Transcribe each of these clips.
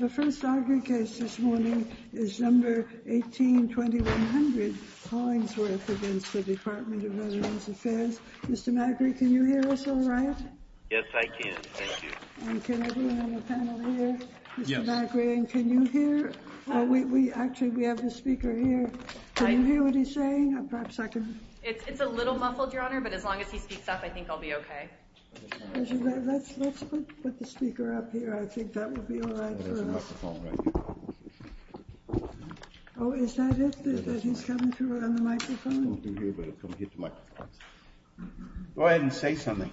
The first argued case this morning is number 18-2100, Hollingsworth v. Department of Veterans Affairs. Mr. Magri, can you hear us all right? Yes, I can, thank you. And can everyone on the panel hear? Yes. Mr. Magri, can you hear? Actually, we have a speaker here. Can you hear what he's saying? It's a little muffled, Your Honor, but as long as he speaks up, I can hear you. Let's put the speaker up here. I think that will be all right for us. There's a microphone right here. Oh, is that it? That he's coming through on the microphone? He's coming through here, but he'll come here to the microphone. Go ahead and say something.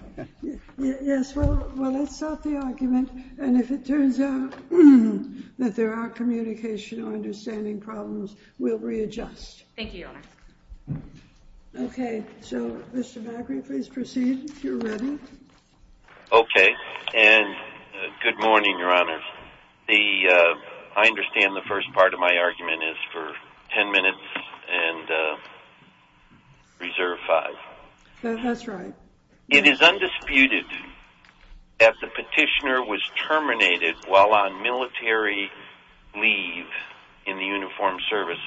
Yes, well, let's start the argument, and if it turns out that there are communication or understanding problems, we'll readjust. Thank you, Your Honor. Okay, so Mr. Magri, please proceed if you're ready. Okay, and good morning, Your Honor. I understand the first part of my argument is for 10 minutes and reserve five. That's right. It is undisputed that the petitioner was terminated while on military leave in the Uniformed Services.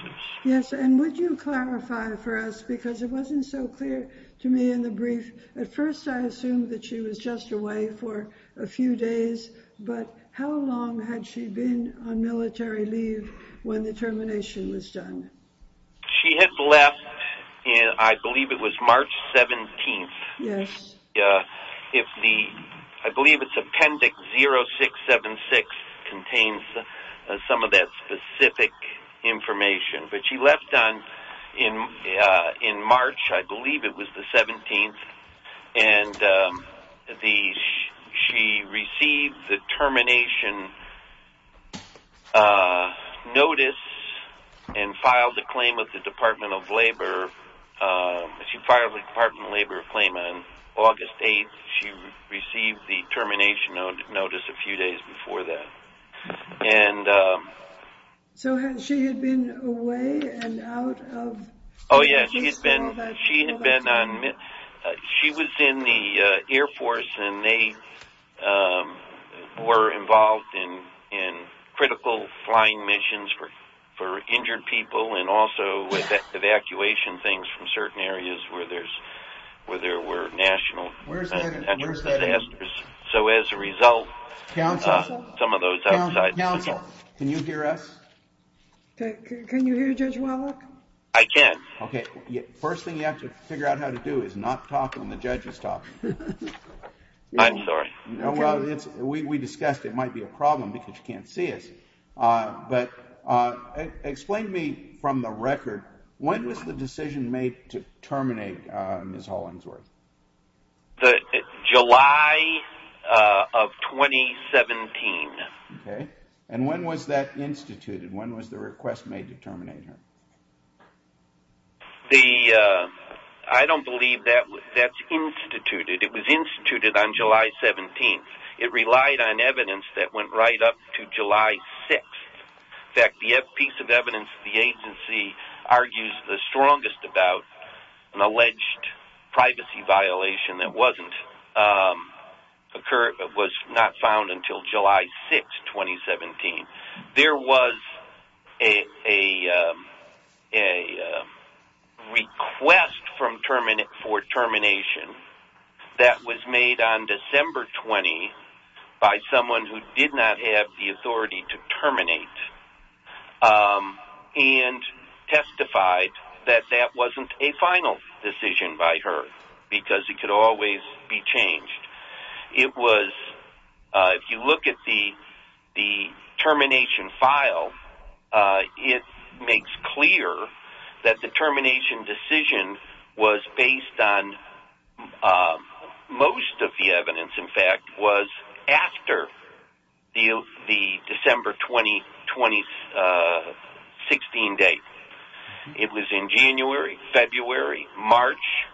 Yes, and would you clarify for us, because it wasn't so clear to me in the brief. At first, I assumed that she was just away for a few days, but how long had she been on military leave when the termination was done? She had left, I believe it was March 17th. I believe it's Appendix 0676 contains some of that specific information, but she left in March, I believe it was the 17th, and she received the termination notice and filed a claim with the Department of Labor. She filed a Department of Labor claim on August 8th. She received the termination notice a few days before that. So, she had been away and out of the case for all that time? Oh, yes. She was in the Air Force and they were involved in critical flying missions for injured people and also with evacuation things from certain areas where there were national interest disasters. So, as a result, some of those outside... Counsel, can you hear us? Can you hear Judge Wallach? I can. Okay, first thing you have to figure out how to do is not talk when the judge is talking. I'm sorry. We discussed it might be a problem because you can't see us, but explain to me from the record, when was the decision made to terminate Ms. Hollingsworth? July of 2017. Okay, and when was that instituted? When was the request made to terminate her? I don't believe that's instituted. It was instituted on July 17th. It relied on evidence that went right up to July 6th. In fact, the agency argues the strongest about an alleged privacy violation that was not found until July 6th, 2017. There was a request for termination that was made on December 20 by someone who did not have the authority to terminate and testified that that wasn't a final decision by that determination decision was based on most of the evidence, in fact, was after the December 20, 2016 date. It was in January, February, March,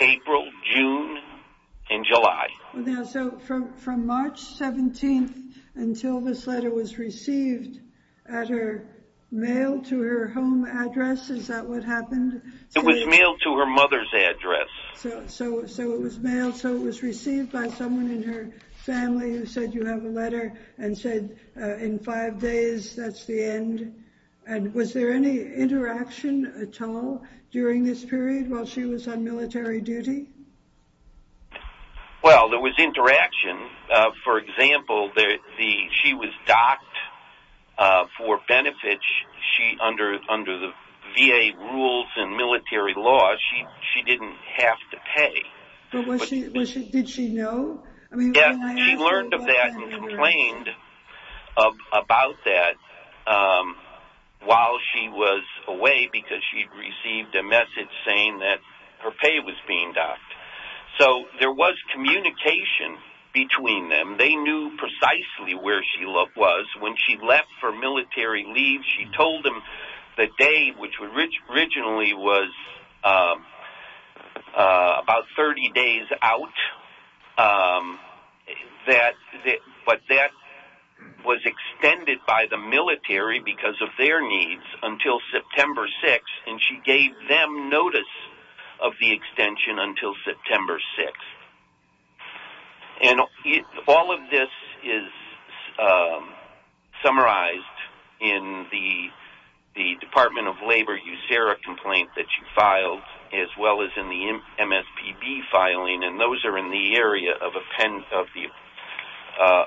April, June, and July. Now, so from March 17th until this letter was received at her mail to her home address, is that what happened? It was mailed to her mother's address. So it was mailed, so it was received by someone in her family who said you have a letter and said in five days that's the end. And was there any interaction at all during this period while she was on military duty? Well, there was interaction. For example, she was docked for benefits under the VA rules and military laws. She didn't have to pay. But did she know? Yes, she learned of that and complained about that while she was away because she'd received a message saying that her pay was being docked. So there was communication between them. They knew precisely where she was. When she left for military leave, she told them the day, which originally was about 30 days out, but that was extended by the military because of their needs until September 6th, and she gave them notice of the extension until September 6th. And all of this is summarized in the Department of Labor USERRA complaint that you filed as well as in the MSPB filing, and those are in the area of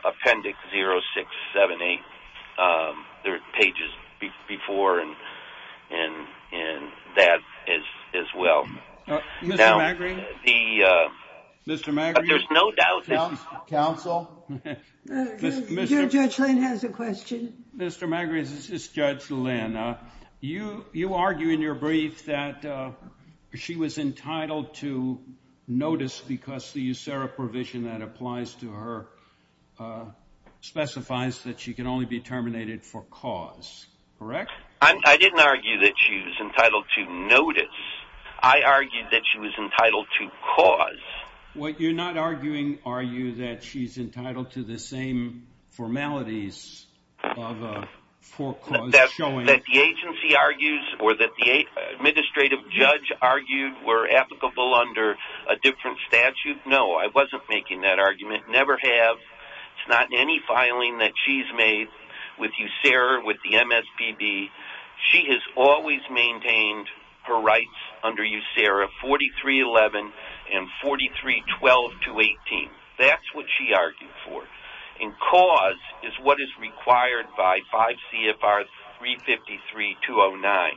Appendix 0678. There are pages before and that as well. Mr. Magrie? There's no doubt, Counsel. Judge Lynn has a question. Mr. Magrie, this is Judge Lynn. You argue in your brief that she was entitled to notice because the USERRA provision that applies to her specifies that she can only be terminated for cause, correct? I didn't argue that she was entitled to notice. I argued that she was entitled to cause. You're not arguing, are you, that she's entitled to the same formalities of a forecaused showing? That the agency argues or that the administrative judge argued were applicable under a different statute? No, I wasn't making that argument. Never have. It's not in any filing that she's made with USERRA, with the MSPB. She has always maintained her rights under USERRA 4311 and 4312-18. That's what she argued for. And cause is what is required by 5 CFR 353-209.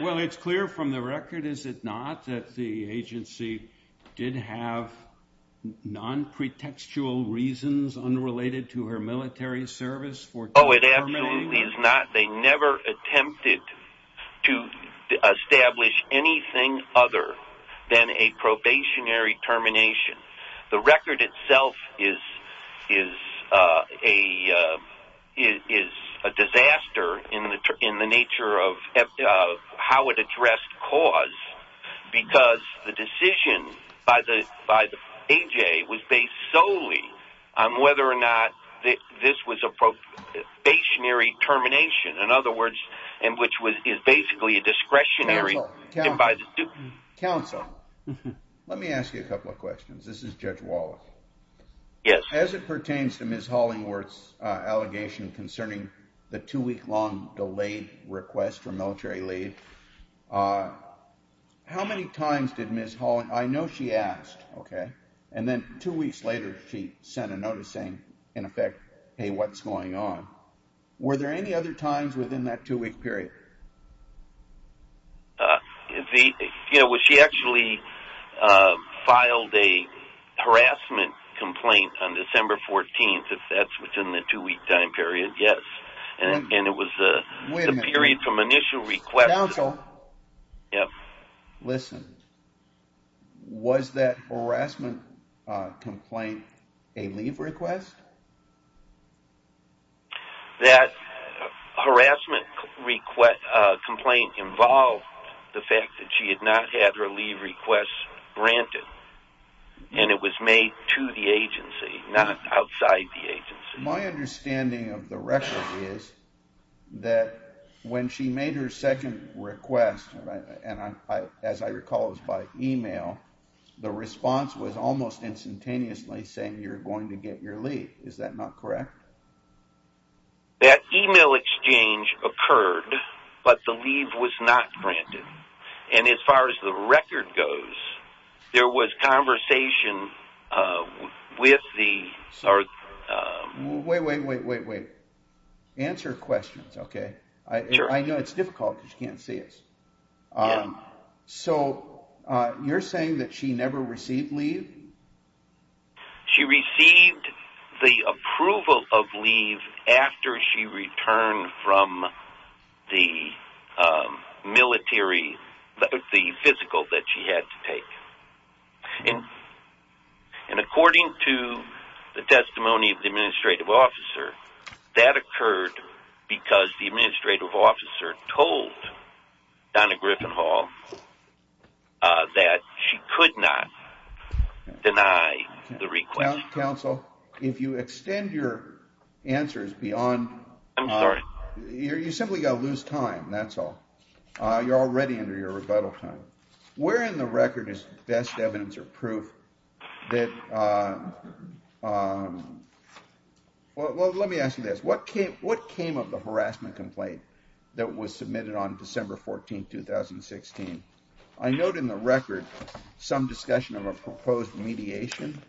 Well, it's clear from the record, is it not, that the agency did have non-pretextual reasons unrelated to her military service for terminating? Oh, it absolutely is not. They never attempted to establish anything other than a probationary termination. The record itself is a disaster in the nature of how it addressed cause. Because the decision by the AJ was based solely on whether or not this was a probationary termination. In other words, which is basically a discretionary... Counsel, let me ask you a couple of questions. This is Judge Wallace. Yes. As it pertains to Ms. Hollingworth's allegation concerning the two-week long delayed request for military leave, how many times did Ms. Hollingworth... I know she asked, okay, and then two weeks later she sent a notice saying, in effect, hey, what's going on? Were there any other times within that two-week period? You know, she actually filed a harassment complaint on December 14th, if that's within the two-week time period, yes. And it was the period from initial request. Counsel, listen. Was that harassment complaint a leave request? That harassment complaint involved the fact that she had not had her leave request granted. And it was made to the agency, not outside the agency. My understanding of the record is that when she made her second request, and as I recall it was by email, the response was almost instantaneously saying you're going to get your leave. Is that not correct? That email exchange occurred, but the leave was not granted. And as far as the record goes, there was conversation with the... Wait, wait, wait, wait, wait. Answer questions, okay? I know it's difficult because you can't see us. Yeah. So you're saying that she never received leave? She received the approval of leave after she returned from the military, the physical that she had to take. And according to the testimony of the administrative officer, that occurred because the administrative officer told Donna Griffin Hall that she could not deny the request. Counsel, if you extend your answers beyond... I'm sorry. You simply got to lose time, that's all. You're already under your rebuttal time. Where in the record is best evidence or proof that... Well, let me ask you this. What came of the harassment complaint that was submitted on December 14, 2016? I note in the record some discussion of a proposed mediation.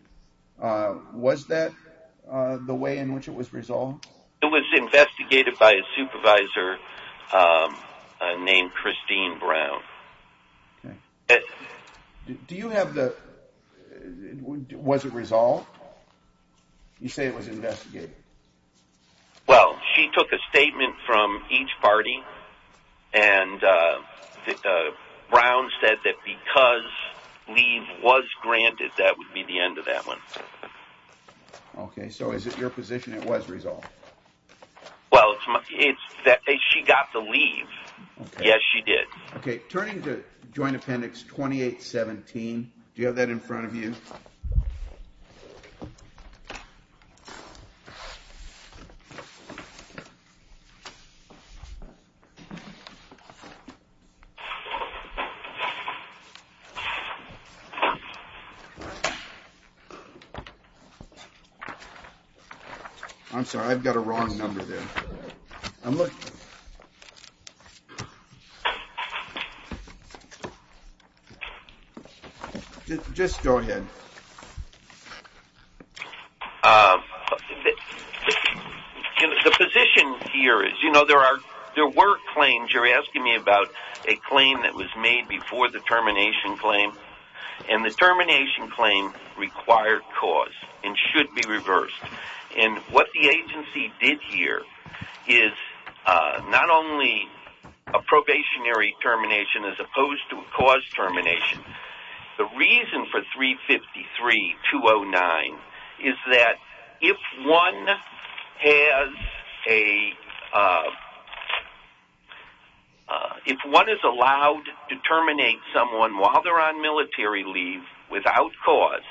Was that the way in which it was resolved? It was investigated by a supervisor named Christine Brown. Do you have the... Was it resolved? You say it was investigated. Well, she took a statement from each party, and Brown said that because leave was granted, that would be the end of that one. Okay, so is it your position it was resolved? Well, it's that she got the leave. Okay. Yes, she did. Okay, turning to Joint Appendix 2817, do you have that in front of you? I'm sorry, I've got a wrong number there. Just go ahead. The position here is, you know, there were claims. You're asking me about a claim that was made before the termination claim, and the termination claim required cause and should be reversed. And what the agency did here is not only a probationary termination as opposed to a cause termination. The reason for 353-209 is that if one has a... without cause,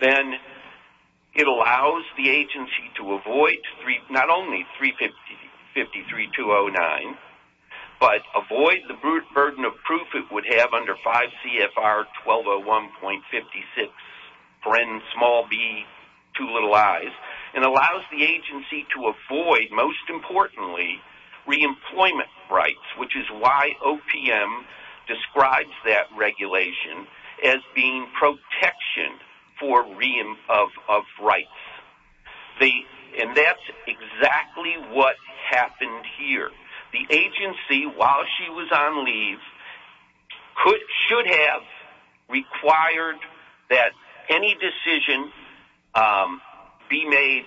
then it allows the agency to avoid not only 353-209, but avoid the burden of proof it would have under 5 CFR 1201.56, friend small b, two little i's. It allows the agency to avoid, most importantly, reemployment rights, which is why OPM describes that regulation as being protection for re-employment of rights. And that's exactly what happened here. The agency, while she was on leave, should have required that any decision be made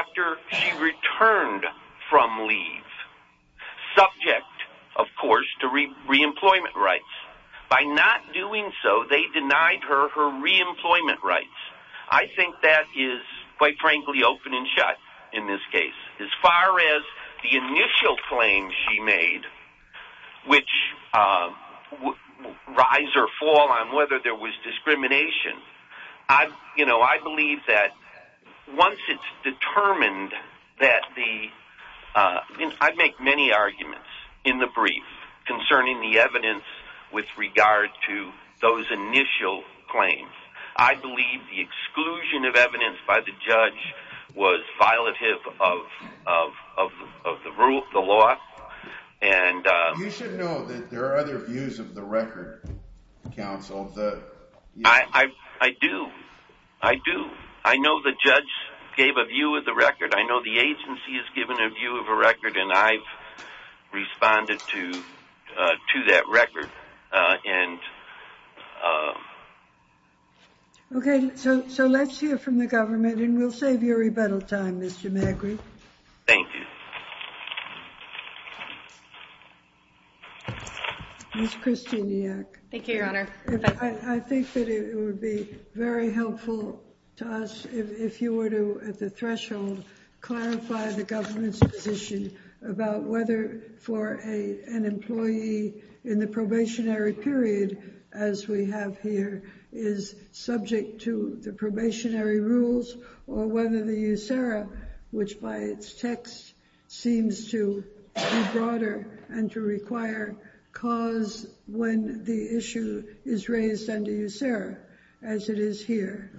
after she returned from leave, subject, of course, to re-employment rights. By not doing so, they denied her her re-employment rights. I think that is, quite frankly, open and shut in this case. As far as the initial claim she made, which rise or fall on whether there was discrimination, you know, I believe that once it's determined that the... I make many arguments in the brief concerning the evidence with regard to those initial claims. I believe the exclusion of evidence by the judge was violative of the law. You should know that there are other views of the record, counsel. I do. I do. I know the judge gave a view of the record. I know the agency has given a view of a record, and I've responded to that record. Okay, so let's hear from the government, and we'll save you rebuttal time, Mr. Magritte. Thank you. Ms. Kristeniak. Thank you, Your Honor. I think that it would be very helpful to us if you were to, at the threshold, clarify the government's position about whether for an employee in the probationary period, as we have here, is subject to the probationary rules, or whether the USERRA, which by its text seems to be broader and to require cause when the issue is raised under USERRA, as it is here.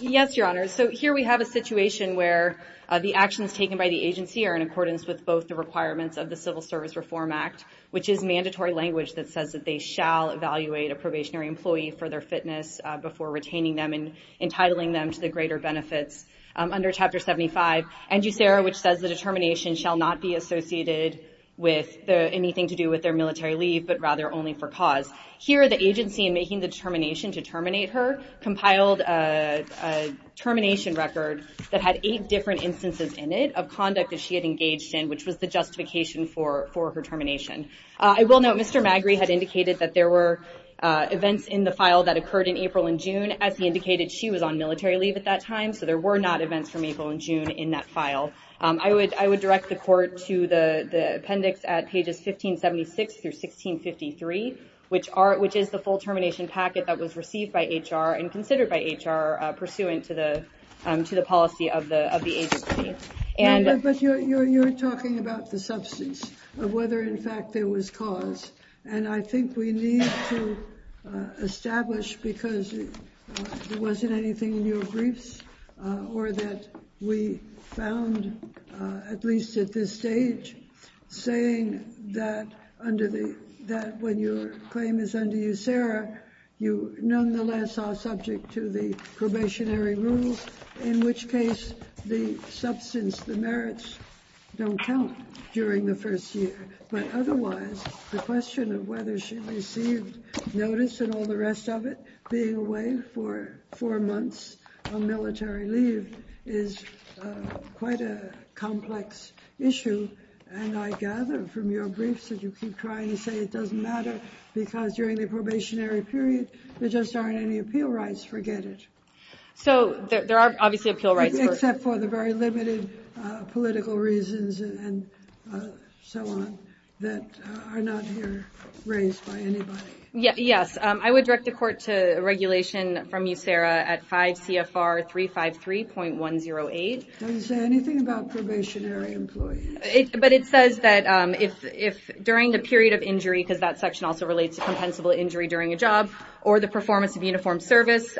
Yes, Your Honor. So here we have a situation where the actions taken by the agency are in accordance with both the requirements of the Civil Service Reform Act, which is mandatory language that says that they shall evaluate a probationary employee for their fitness before retaining them and entitling them to the greater benefits. Under Chapter 75, and USERRA, which says the determination shall not be associated with anything to do with their military leave, but rather only for cause. Here the agency, in making the determination to terminate her, compiled a termination record that had eight different instances in it of conduct that she had engaged in, which was the justification for her termination. I will note Mr. Magritte had indicated that there were events in the file that occurred in April and June, as he indicated she was on military leave at that time, so there were not events from April and June in that file. I would direct the court to the appendix at pages 1576 through 1653, which is the full termination packet that was received by HR and considered by HR pursuant to the policy of the agency. But you're talking about the substance of whether, in fact, there was cause. And I think we need to establish, because there wasn't anything in your briefs, or that we found, at least at this stage, saying that when your claim is under USERRA, you nonetheless are subject to the probationary rules, in which case the substance, the merits, don't count during the first year. But otherwise, the question of whether she received notice and all the rest of it, being away for four months on military leave, is quite a complex issue. And I gather from your briefs that you keep trying to say it doesn't matter, because during the probationary period there just aren't any appeal rights. Forget it. So there are obviously appeal rights. Except for the very limited political reasons and so on that are not here raised by anybody. Yes. I would direct the court to regulation from USERRA at 5 CFR 353.108. Does it say anything about probationary employees? But it says that if during the period of injury, because that section also relates to compensable injury during a job, or the performance of uniform service,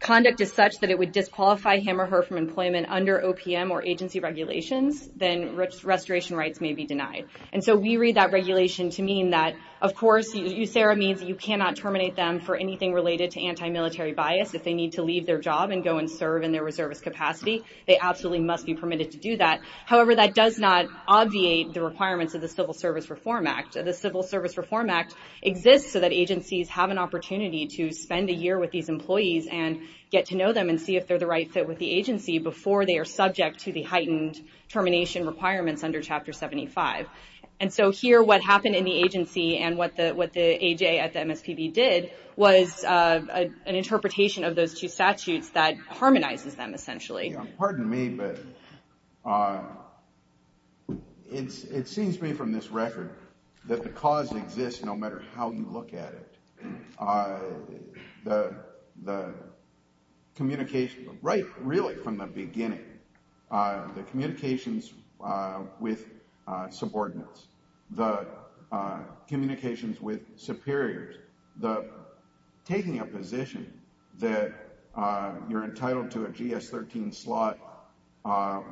conduct is such that it would disqualify him or her from employment under OPM or agency regulations, then restoration rights may be denied. And so we read that regulation to mean that, of course, USERRA means you cannot terminate them for anything related to anti-military bias. If they need to leave their job and go and serve in their reservist capacity, they absolutely must be permitted to do that. However, that does not obviate the requirements of the Civil Service Reform Act. The Civil Service Reform Act exists so that agencies have an opportunity to spend a year with these employees and get to know them and see if they're the right fit with the agency before they are subject to the heightened termination requirements under Chapter 75. And so here what happened in the agency and what the AJ at the MSPB did was an interpretation of those two statutes that harmonizes them, essentially. Pardon me, but it seems to me from this record that the cause exists no matter how you look at it. The communication, right really from the beginning, the communications with subordinates, the communications with superiors, the taking a position that you're entitled to a GS-13 slot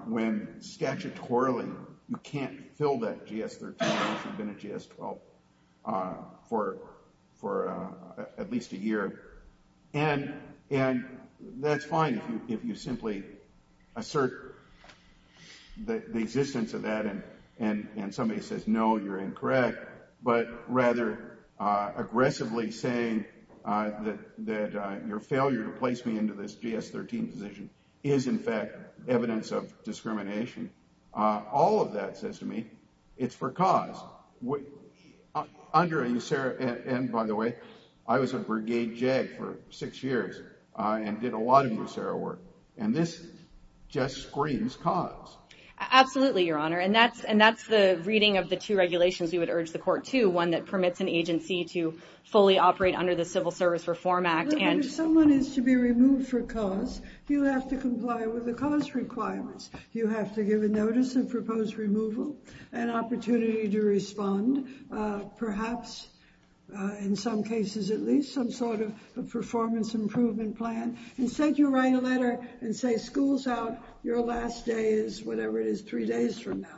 when statutorily you can't fill that GS-13 unless you've been a GS-12 for at least a year. And that's fine if you simply assert the existence of that and somebody says no, you're incorrect, but rather aggressively saying that your failure to place me into this GS-13 position is in fact evidence of discrimination. All of that says to me it's for cause. Under a USERRA, and by the way, I was a brigade JAG for six years and did a lot of USERRA work, and this just screams cause. Absolutely, Your Honor, and that's the reading of the two regulations we would urge the court to, one that permits an agency to fully operate under the Civil Service Reform Act. But if someone is to be removed for cause, you have to comply with the cause requirements. You have to give a notice of proposed removal, an opportunity to respond, perhaps in some cases at least, some sort of performance improvement plan. Instead, you write a letter and say school's out, your last day is whatever it is three days from now.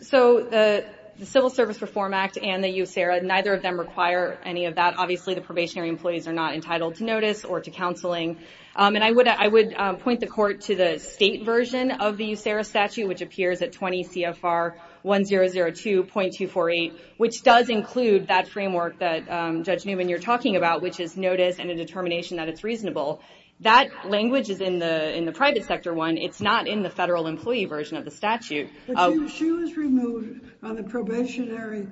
So the Civil Service Reform Act and the USERRA, neither of them require any of that. Obviously, the probationary employees are not entitled to notice or to counseling. And I would point the court to the state version of the USERRA statute, which appears at 20 CFR 1002.248, which does include that framework that Judge Newman, you're talking about, which is notice and a determination that it's reasonable. That language is in the private sector one. It's not in the federal employee version of the statute. But she was removed on the probationary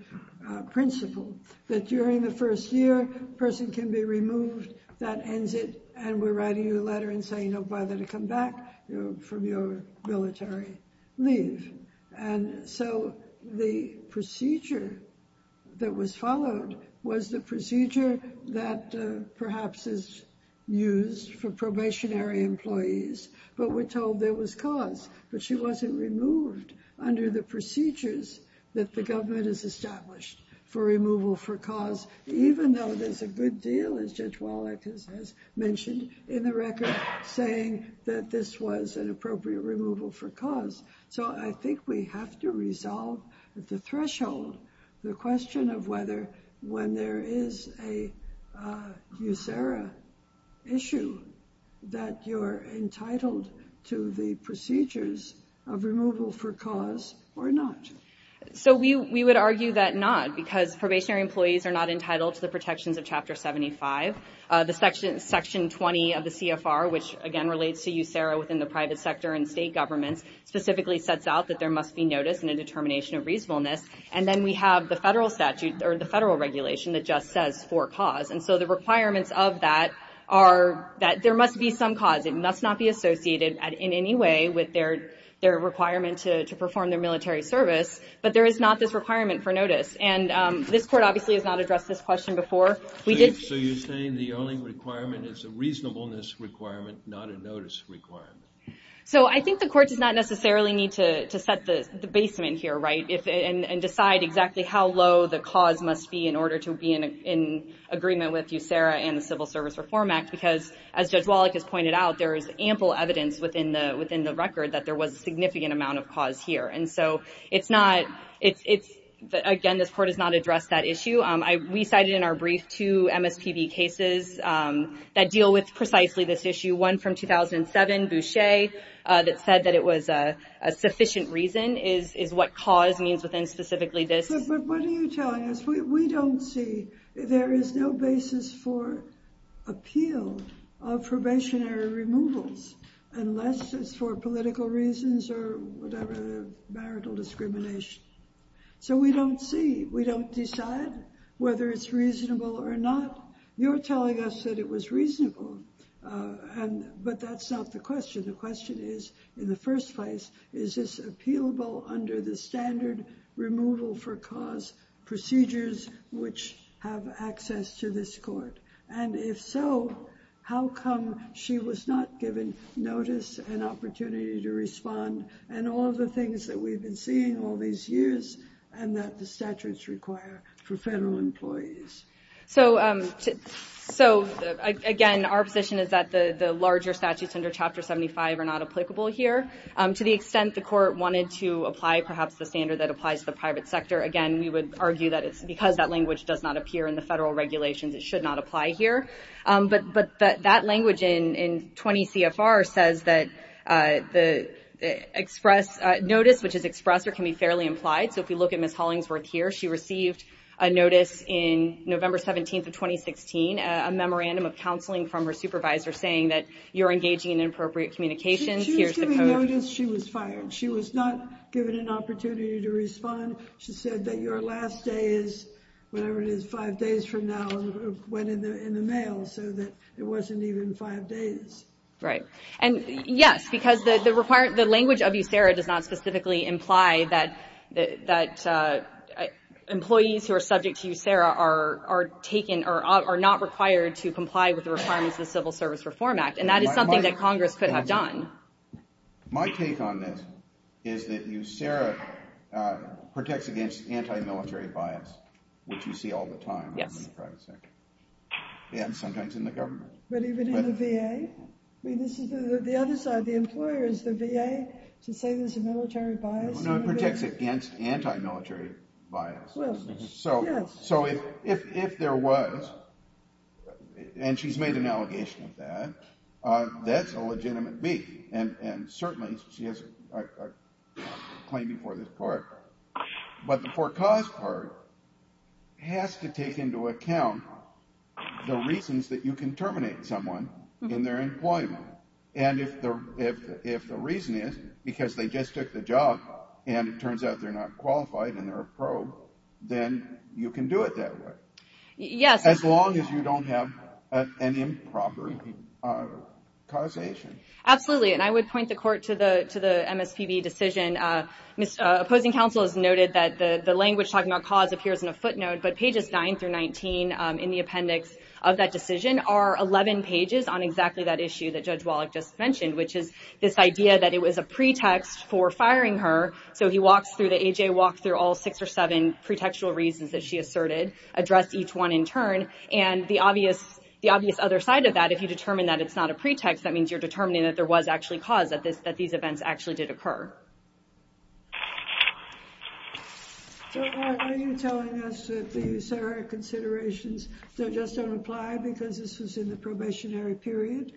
principle that during the first year, person can be removed, that ends it. And we're writing you a letter and saying no bother to come back from your military leave. And so the procedure that was followed was the procedure that perhaps is used for probationary employees. But we're told there was cause. But she wasn't removed under the procedures that the government has established for removal for cause, even though there's a good deal, as Judge Wallach has mentioned in the record, saying that this was an appropriate removal for cause. So I think we have to resolve the threshold, the question of whether when there is a USERRA issue, that you're entitled to the procedures of removal for cause or not. So we would argue that not, because probationary employees are not entitled to the protections of Chapter 75. Section 20 of the CFR, which, again, relates to USERRA within the private sector and state governments, specifically sets out that there must be notice and a determination of reasonableness. And then we have the federal statute or the federal regulation that just says for cause. And so the requirements of that are that there must be some cause. It must not be associated in any way with their requirement to perform their military service. But there is not this requirement for notice. And this court obviously has not addressed this question before. So you're saying the only requirement is a reasonableness requirement, not a notice requirement. So I think the court does not necessarily need to set the basement here, right, and decide exactly how low the cause must be in order to be in agreement with USERRA and the Civil Service Reform Act. Because, as Judge Wallach has pointed out, there is ample evidence within the record that there was a significant amount of cause here. And so it's not, it's, again, this court has not addressed that issue. We cited in our brief two MSPB cases that deal with precisely this issue. One from 2007, Boucher, that said that it was a sufficient reason is what cause means within specifically this. But what are you telling us? We don't see, there is no basis for appeal of probationary removals, unless it's for political reasons or whatever, marital discrimination. So we don't see, we don't decide whether it's reasonable or not. You're telling us that it was reasonable, but that's not the question. The question is, in the first place, is this appealable under the standard removal for cause procedures which have access to this court? And if so, how come she was not given notice and opportunity to respond? And all of the things that we've been seeing all these years and that the statutes require for federal employees. So, again, our position is that the larger statutes under Chapter 75 are not applicable here. To the extent the court wanted to apply perhaps the standard that applies to the private sector, again, we would argue that it's because that language does not appear in the federal regulations, it should not apply here. But that language in 20 CFR says that the express notice, which is expressed, or can be fairly implied. So if we look at Ms. Hollingsworth here, she received a notice in November 17th of 2016, a memorandum of counseling from her supervisor saying that you're engaging in inappropriate communications. She was given notice, she was fired. She was not given an opportunity to respond. She said that your last day is, whatever it is, five days from now, went in the mail, so that it wasn't even five days. And yes, because the language of USERRA does not specifically imply that employees who are subject to USERRA are not required to comply with the requirements of the Civil Service Reform Act. And that is something that Congress could have done. My take on this is that USERRA protects against anti-military bias, which you see all the time in the private sector. And sometimes in the government. But even in the VA? I mean, this is the other side. The employer is the VA to say there's a military bias. No, it protects against anti-military bias. Well, yes. So if there was, and she's made an allegation of that, that's a legitimate B. And certainly she has a claim before this court. But the forecaused part has to take into account the reasons that you can terminate someone in their employment. And if the reason is because they just took the job and it turns out they're not qualified and they're a pro, then you can do it that way. Yes. As long as you don't have an improper causation. Absolutely. And I would point the court to the MSPB decision. Opposing counsel has noted that the language talking about cause appears in a footnote, but pages 9 through 19 in the appendix of that decision are 11 pages on exactly that issue that Judge Wallach just mentioned, which is this idea that it was a pretext for firing her. So he walks through the A.J., walks through all six or seven pretextual reasons that she asserted, addressed each one in turn. And the obvious other side of that, if you determine that it's not a pretext, that means you're determining that there was actually cause that these events actually did occur. So are you telling us that these considerations just don't apply because this was in the probationary period?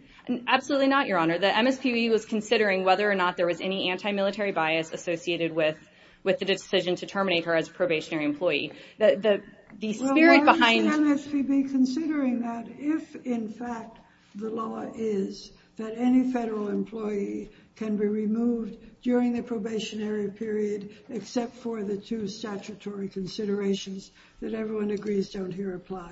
Absolutely not, Your Honor. The MSPB was considering whether or not there was any anti-military bias associated with the decision to terminate her as a probationary employee. Well, why is the MSPB considering that if, in fact, the law is that any federal employee can be removed during the probationary period except for the two statutory considerations that everyone agrees don't here apply?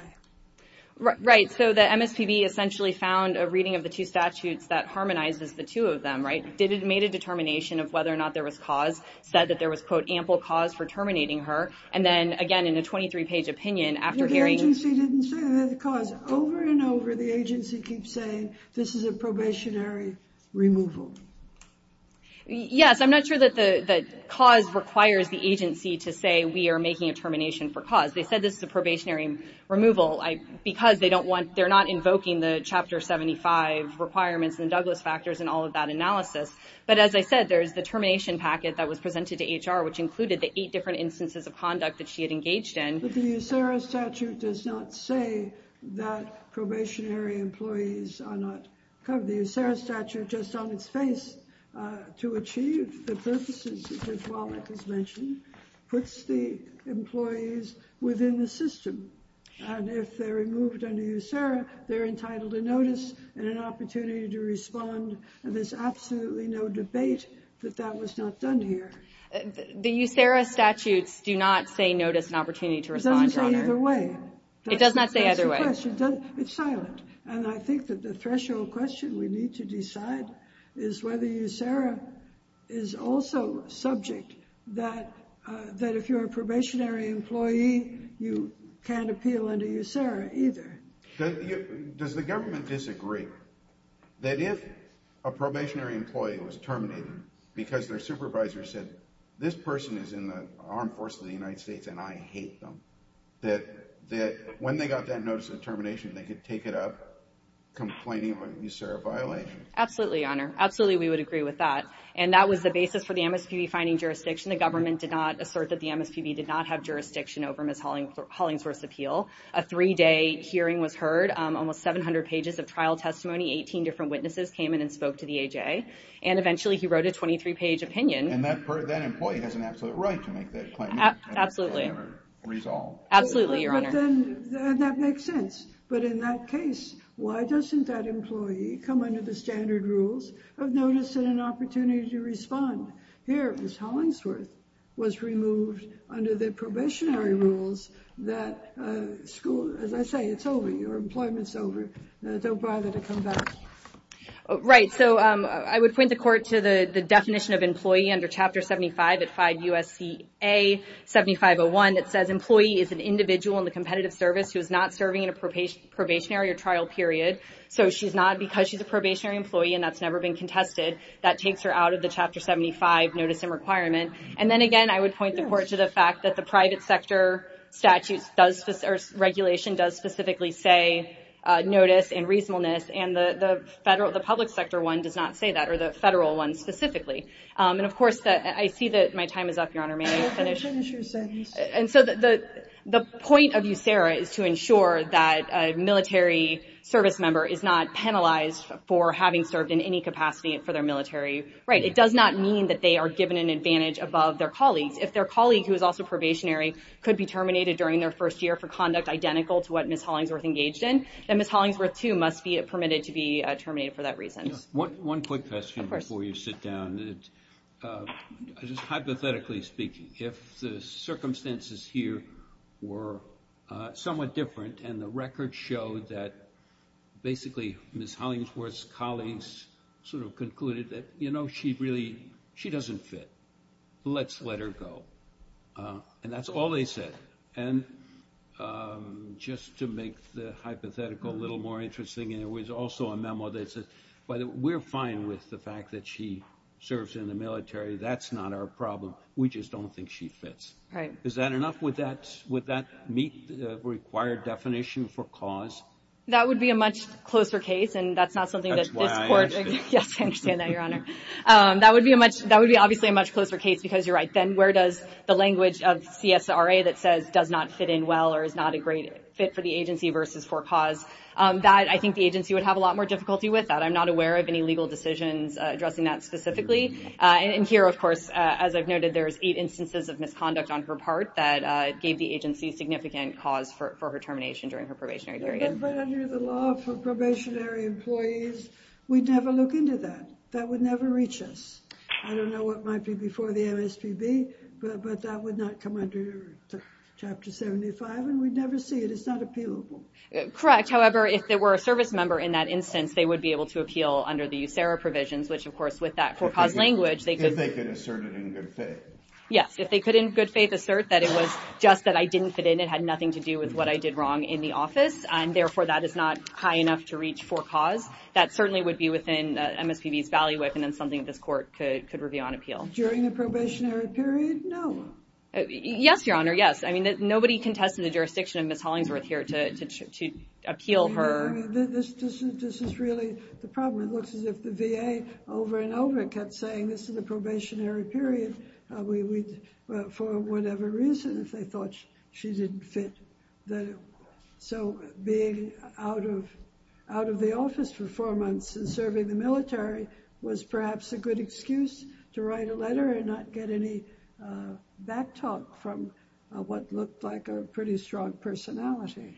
Right. So the MSPB essentially found a reading of the two statutes that harmonizes the two of them, right? It made a determination of whether or not there was cause, said that there was, quote, ample cause for terminating her. And then, again, in a 23-page opinion, after hearing... But the agency didn't say that there was cause. Over and over, the agency keeps saying this is a probationary removal. Yes, I'm not sure that cause requires the agency to say we are making a termination for cause. They said this is a probationary removal because they don't want... They're not invoking the Chapter 75 requirements and Douglas factors and all of that analysis. But as I said, there is the termination packet that was presented to HR, which included the eight different instances of conduct that she had engaged in. But the USERRA statute does not say that probationary employees are not covered. The USERRA statute, just on its face, to achieve the purposes that Wallach has mentioned, puts the employees within the system. And if they're removed under USERRA, they're entitled to notice and an opportunity to respond. And there's absolutely no debate that that was not done here. The USERRA statutes do not say notice and opportunity to respond, Your Honor. It doesn't say either way. It does not say either way. That's the question. It's silent. And I think that the threshold question we need to decide is whether USERRA is also subject, that if you're a probationary employee, you can't appeal under USERRA either. Does the government disagree that if a probationary employee was terminated because their supervisor said, this person is in the armed force of the United States and I hate them, that when they got that notice of termination, they could take it up complaining about USERRA violation? Absolutely, Your Honor. Absolutely, we would agree with that. And that was the basis for the MSPB finding jurisdiction. The government did not assert that the MSPB did not have jurisdiction over Ms. Hollingsworth's appeal. A three-day hearing was heard. Almost 700 pages of trial testimony. Eighteen different witnesses came in and spoke to the AJ. And eventually he wrote a 23-page opinion. And that employee has an absolute right to make that claim. Absolutely. Absolutely, Your Honor. And that makes sense. But in that case, why doesn't that employee come under the standard rules of notice and an opportunity to respond? Here, Ms. Hollingsworth was removed under the probationary rules that school, as I say, it's over. Your employment's over. Don't bother to come back. Right. So I would point the court to the definition of employee under Chapter 75 at 5 U.S.C.A. 7501 that says employee is an individual in the competitive service who is not serving in a probationary or trial period. So she's not because she's a probationary employee and that's never been contested. That takes her out of the Chapter 75 notice and requirement. And then again, I would point the court to the fact that the private sector statutes or regulation does specifically say notice and reasonableness. And the public sector one does not say that, or the federal one specifically. And, of course, I see that my time is up, Your Honor. May I finish? Finish your sentence. And so the point of USERRA is to ensure that a military service member is not penalized for having served in any capacity for their military. Right. It does not mean that they are given an advantage above their colleagues. If their colleague, who is also probationary, could be terminated during their first year for conduct identical to what Ms. Hollingsworth engaged in, then Ms. Hollingsworth, too, must be permitted to be terminated for that reason. One quick question before you sit down. Of course. Just hypothetically speaking, if the circumstances here were somewhat different and the record showed that basically Ms. Hollingsworth's colleagues sort of concluded that, you know, she doesn't fit, let's let her go. And that's all they said. And just to make the hypothetical a little more interesting, there was also a memo that said, we're fine with the fact that she serves in the military. That's not our problem. We just don't think she fits. Right. Is that enough? Would that meet the required definition for cause? That would be a much closer case, and that's not something that this court – That's why I understand. Yes, I understand that, Your Honor. That would be obviously a much closer case because you're right. Then where does the language of CSRA that says does not fit in well or is not a great fit for the agency versus for cause, that I think the agency would have a lot more difficulty with. I'm not aware of any legal decisions addressing that specifically. And here, of course, as I've noted, there's eight instances of misconduct on her part that gave the agency significant cause for her termination during her probationary period. But under the law for probationary employees, we'd never look into that. That would never reach us. I don't know what might be before the MSPB, but that would not come under Chapter 75, and we'd never see it. It's not appealable. Correct. However, if there were a service member in that instance, they would be able to appeal under the USERRA provisions, which, of course, with that for cause language, they could – If they could assert it in good faith. Yes. If they could in good faith assert that it was just that I didn't fit in, it had nothing to do with what I did wrong in the office, and therefore that is not high enough to reach for cause, that certainly would be within MSPB's value weapon and something that this court could review on appeal. During the probationary period, no. Yes, Your Honor, yes. I mean, nobody contested the jurisdiction of Ms. Hollingsworth here to appeal her. This is really the problem. It looks as if the VA over and over kept saying, this is a probationary period, for whatever reason, if they thought she didn't fit. So being out of the office for four months and serving the military was perhaps a good excuse to write a letter and not get any back talk from what looked like a pretty strong personality.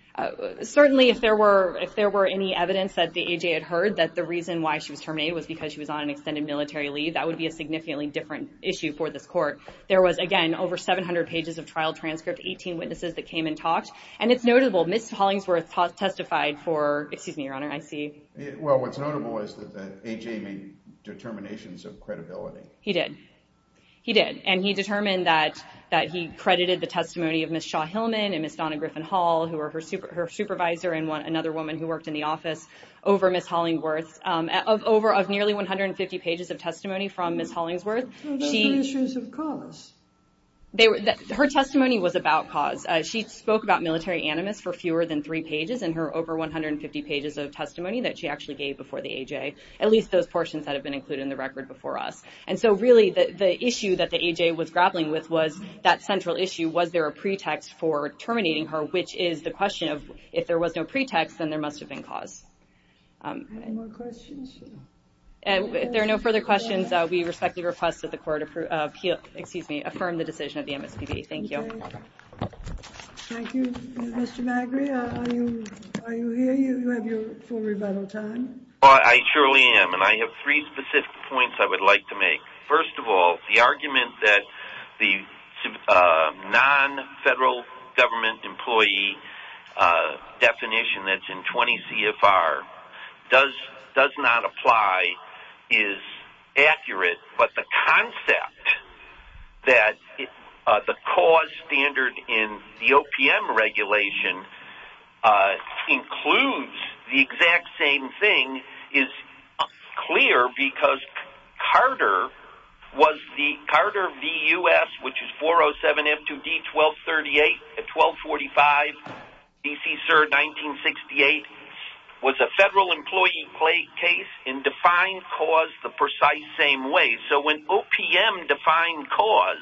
Certainly, if there were any evidence that the AJ had heard that the reason why she was terminated was because she was on an extended military leave, that would be a significantly different issue for this court. There was, again, over 700 pages of trial transcript, 18 witnesses that came and talked, and it's notable, Ms. Hollingsworth testified for – excuse me, Your Honor, I see – Well, what's notable is that AJ made determinations of credibility. He did. He did. And he determined that he credited the testimony of Ms. Shaw-Hillman and Ms. Donna Griffin-Hall, who were her supervisor and another woman who worked in the office, over Ms. Hollingsworth. Of nearly 150 pages of testimony from Ms. Hollingsworth, she – Those were issues of cause. Her testimony was about cause. She spoke about military animus for fewer than three pages in her over 150 pages of testimony that she actually gave before the AJ, at least those portions that have been included in the record before us. And so, really, the issue that the AJ was grappling with was that central issue, was there a pretext for terminating her, which is the question of, if there was no pretext, then there must have been cause. Any more questions? If there are no further questions, we respectfully request that the court approve – excuse me, affirm the decision of the MSPB. Thank you. Thank you. Mr. Magri, are you here? Do you have your full rebuttal time? I surely am, and I have three specific points I would like to make. First of all, the argument that the non-federal government employee definition that's in 20 CFR does not apply is accurate, but the concept that the cause standard in the OPM regulation includes the exact same thing is clear because Carter was the – Carter v. U.S., which is 407F2D1238 at 1245 D.C. CERD 1968, was a federal employee case and defined cause the precise same way. So when OPM defined cause,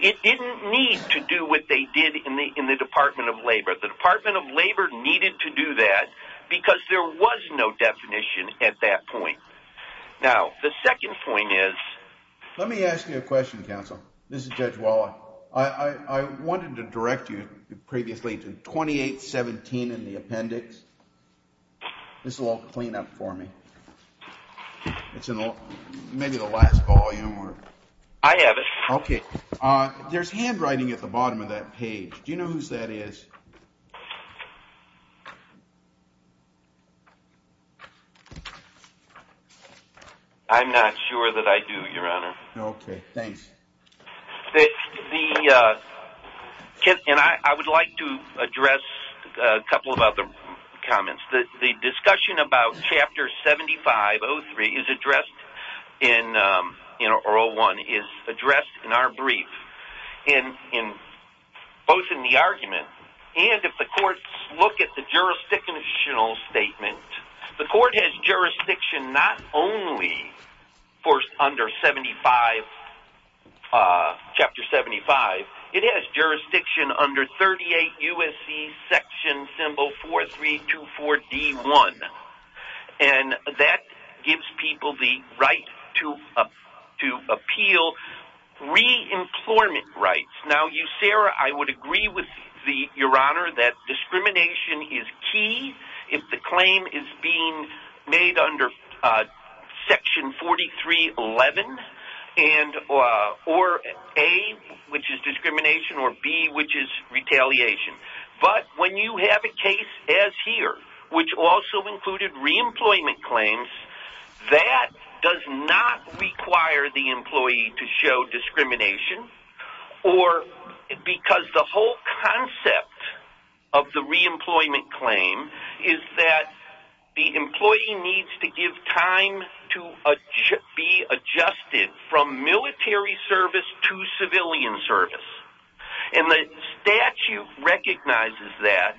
it didn't need to do what they did in the Department of Labor. The Department of Labor needed to do that because there was no definition at that point. Now, the second point is – Let me ask you a question, counsel. This is Judge Waller. I wanted to direct you previously to 2817 in the appendix. This will all clean up for me. It's in maybe the last volume. I have it. Okay. There's handwriting at the bottom of that page. Do you know whose that is? I'm not sure that I do, Your Honor. Okay. Thanks. The – and I would like to address a couple of other comments. The discussion about Chapter 75-03 is addressed in – or 01 – is addressed in our brief, both in the argument and if the courts look at the jurisdictional statement. The court has jurisdiction not only for under 75 – Chapter 75. It has jurisdiction under 38 U.S.C. Section Symbol 4324-D1. And that gives people the right to appeal re-employment rights. Now, Sarah, I would agree with Your Honor that discrimination is key if the claim is being made under Section 43-11 and – or A, which is discrimination, or B, which is retaliation. But when you have a case as here, which also included re-employment claims, that does not require the employee to show discrimination or – because the whole concept of the re-employment claim is that the employee needs to give time to be adjusted from military service to civilian service. And the statute recognizes that.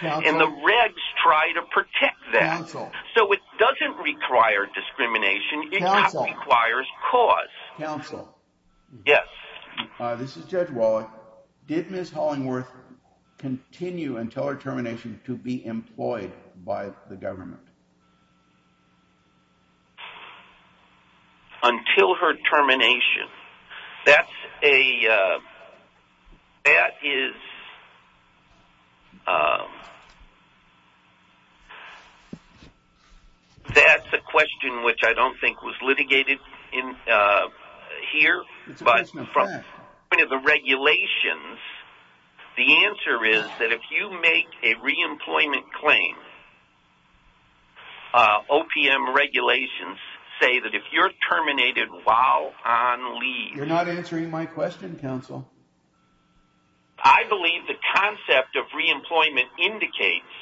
And the regs try to protect that. So it doesn't require discrimination. It just requires cause. Counsel. Yes. This is Judge Wallach. Did Ms. Hollingworth continue until her termination to be employed by the government? Until her termination. That's a – that is – that's a question which I don't think was litigated here. It's a question of fact. But from the regulations, the answer is that if you make a re-employment claim, OPM regulations say that if you're terminated while on leave – You're not answering my question, counsel. I believe the concept of re-employment indicates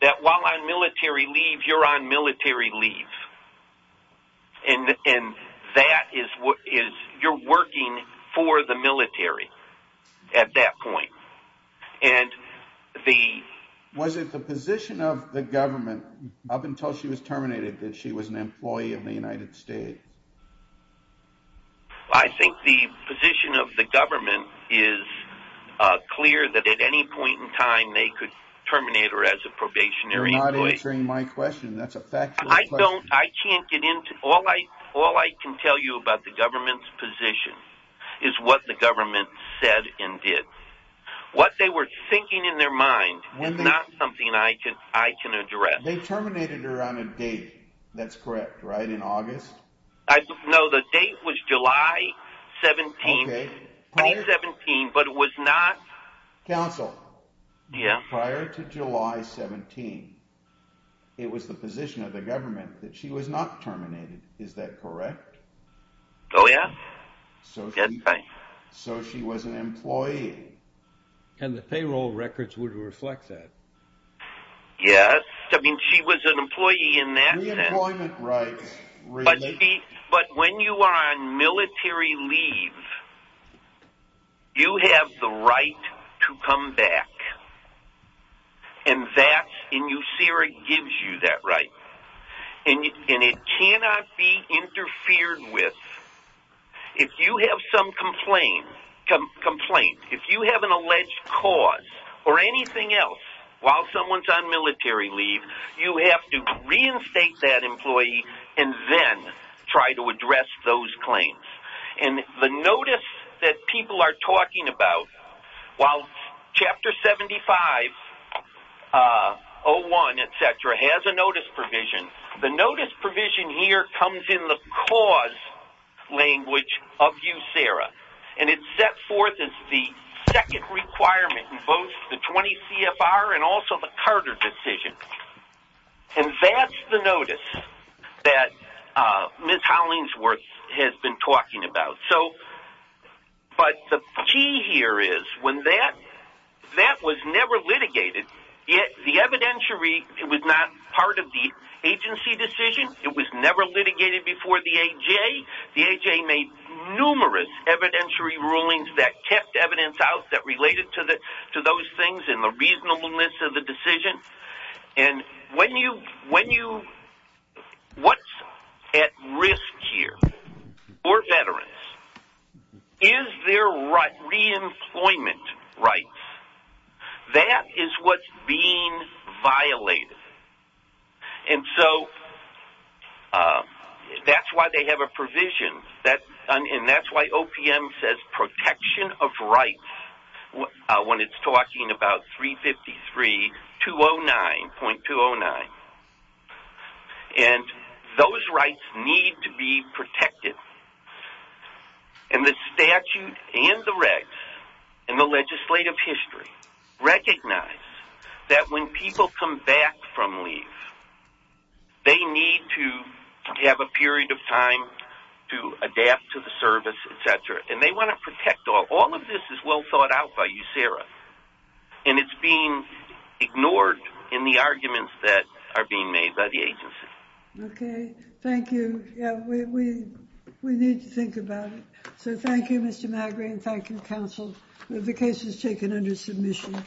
that while on military leave, you're on military leave. And that is – you're working for the military at that point. And the – Was it the position of the government up until she was terminated that she was an employee of the United States? I think the position of the government is clear that at any point in time they could terminate her as a probationary employee. You're not answering my question. That's a factual question. I don't – I can't get into – all I can tell you about the government's position is what the government said and did. What they were thinking in their mind is not something I can address. They terminated her on a date. That's correct, right? In August? No, the date was July 17, 2017, but it was not – Counsel. Yeah. Prior to July 17, it was the position of the government that she was not terminated. Is that correct? Oh, yeah. So she – That's right. And the payroll records would reflect that. Yes. I mean, she was an employee in that – Reemployment rights. But when you are on military leave, you have the right to come back. And that's – and you see where it gives you that right. And it cannot be interfered with. If you have some complaint, if you have an alleged cause or anything else while someone's on military leave, you have to reinstate that employee and then try to address those claims. And the notice that people are talking about, while Chapter 75-01, et cetera, has a notice provision, the notice provision here comes in the cause language of USERRA, and it's set forth as the second requirement in both the 20 CFR and also the Carter decision. And that's the notice that Ms. Hollingsworth has been talking about. So – but the key here is when that – that was never litigated, the evidentiary was not part of the agency decision. It was never litigated before the AJ. The AJ made numerous evidentiary rulings that kept evidence out that related to those things and the reasonableness of the decision. And when you – what's at risk here for veterans is their reemployment rights. That is what's being violated. And so that's why they have a provision. And that's why OPM says protection of rights when it's talking about 353.209. And the statute and the regs and the legislative history recognize that when people come back from leave, they need to have a period of time to adapt to the service, et cetera. And they want to protect all. All of this is well thought out by USERRA, and it's being ignored in the arguments that are being made by the agency. Okay. Thank you. Yeah, we need to think about it. So thank you, Mr. Magri, and thank you, counsel. The case is taken under submission.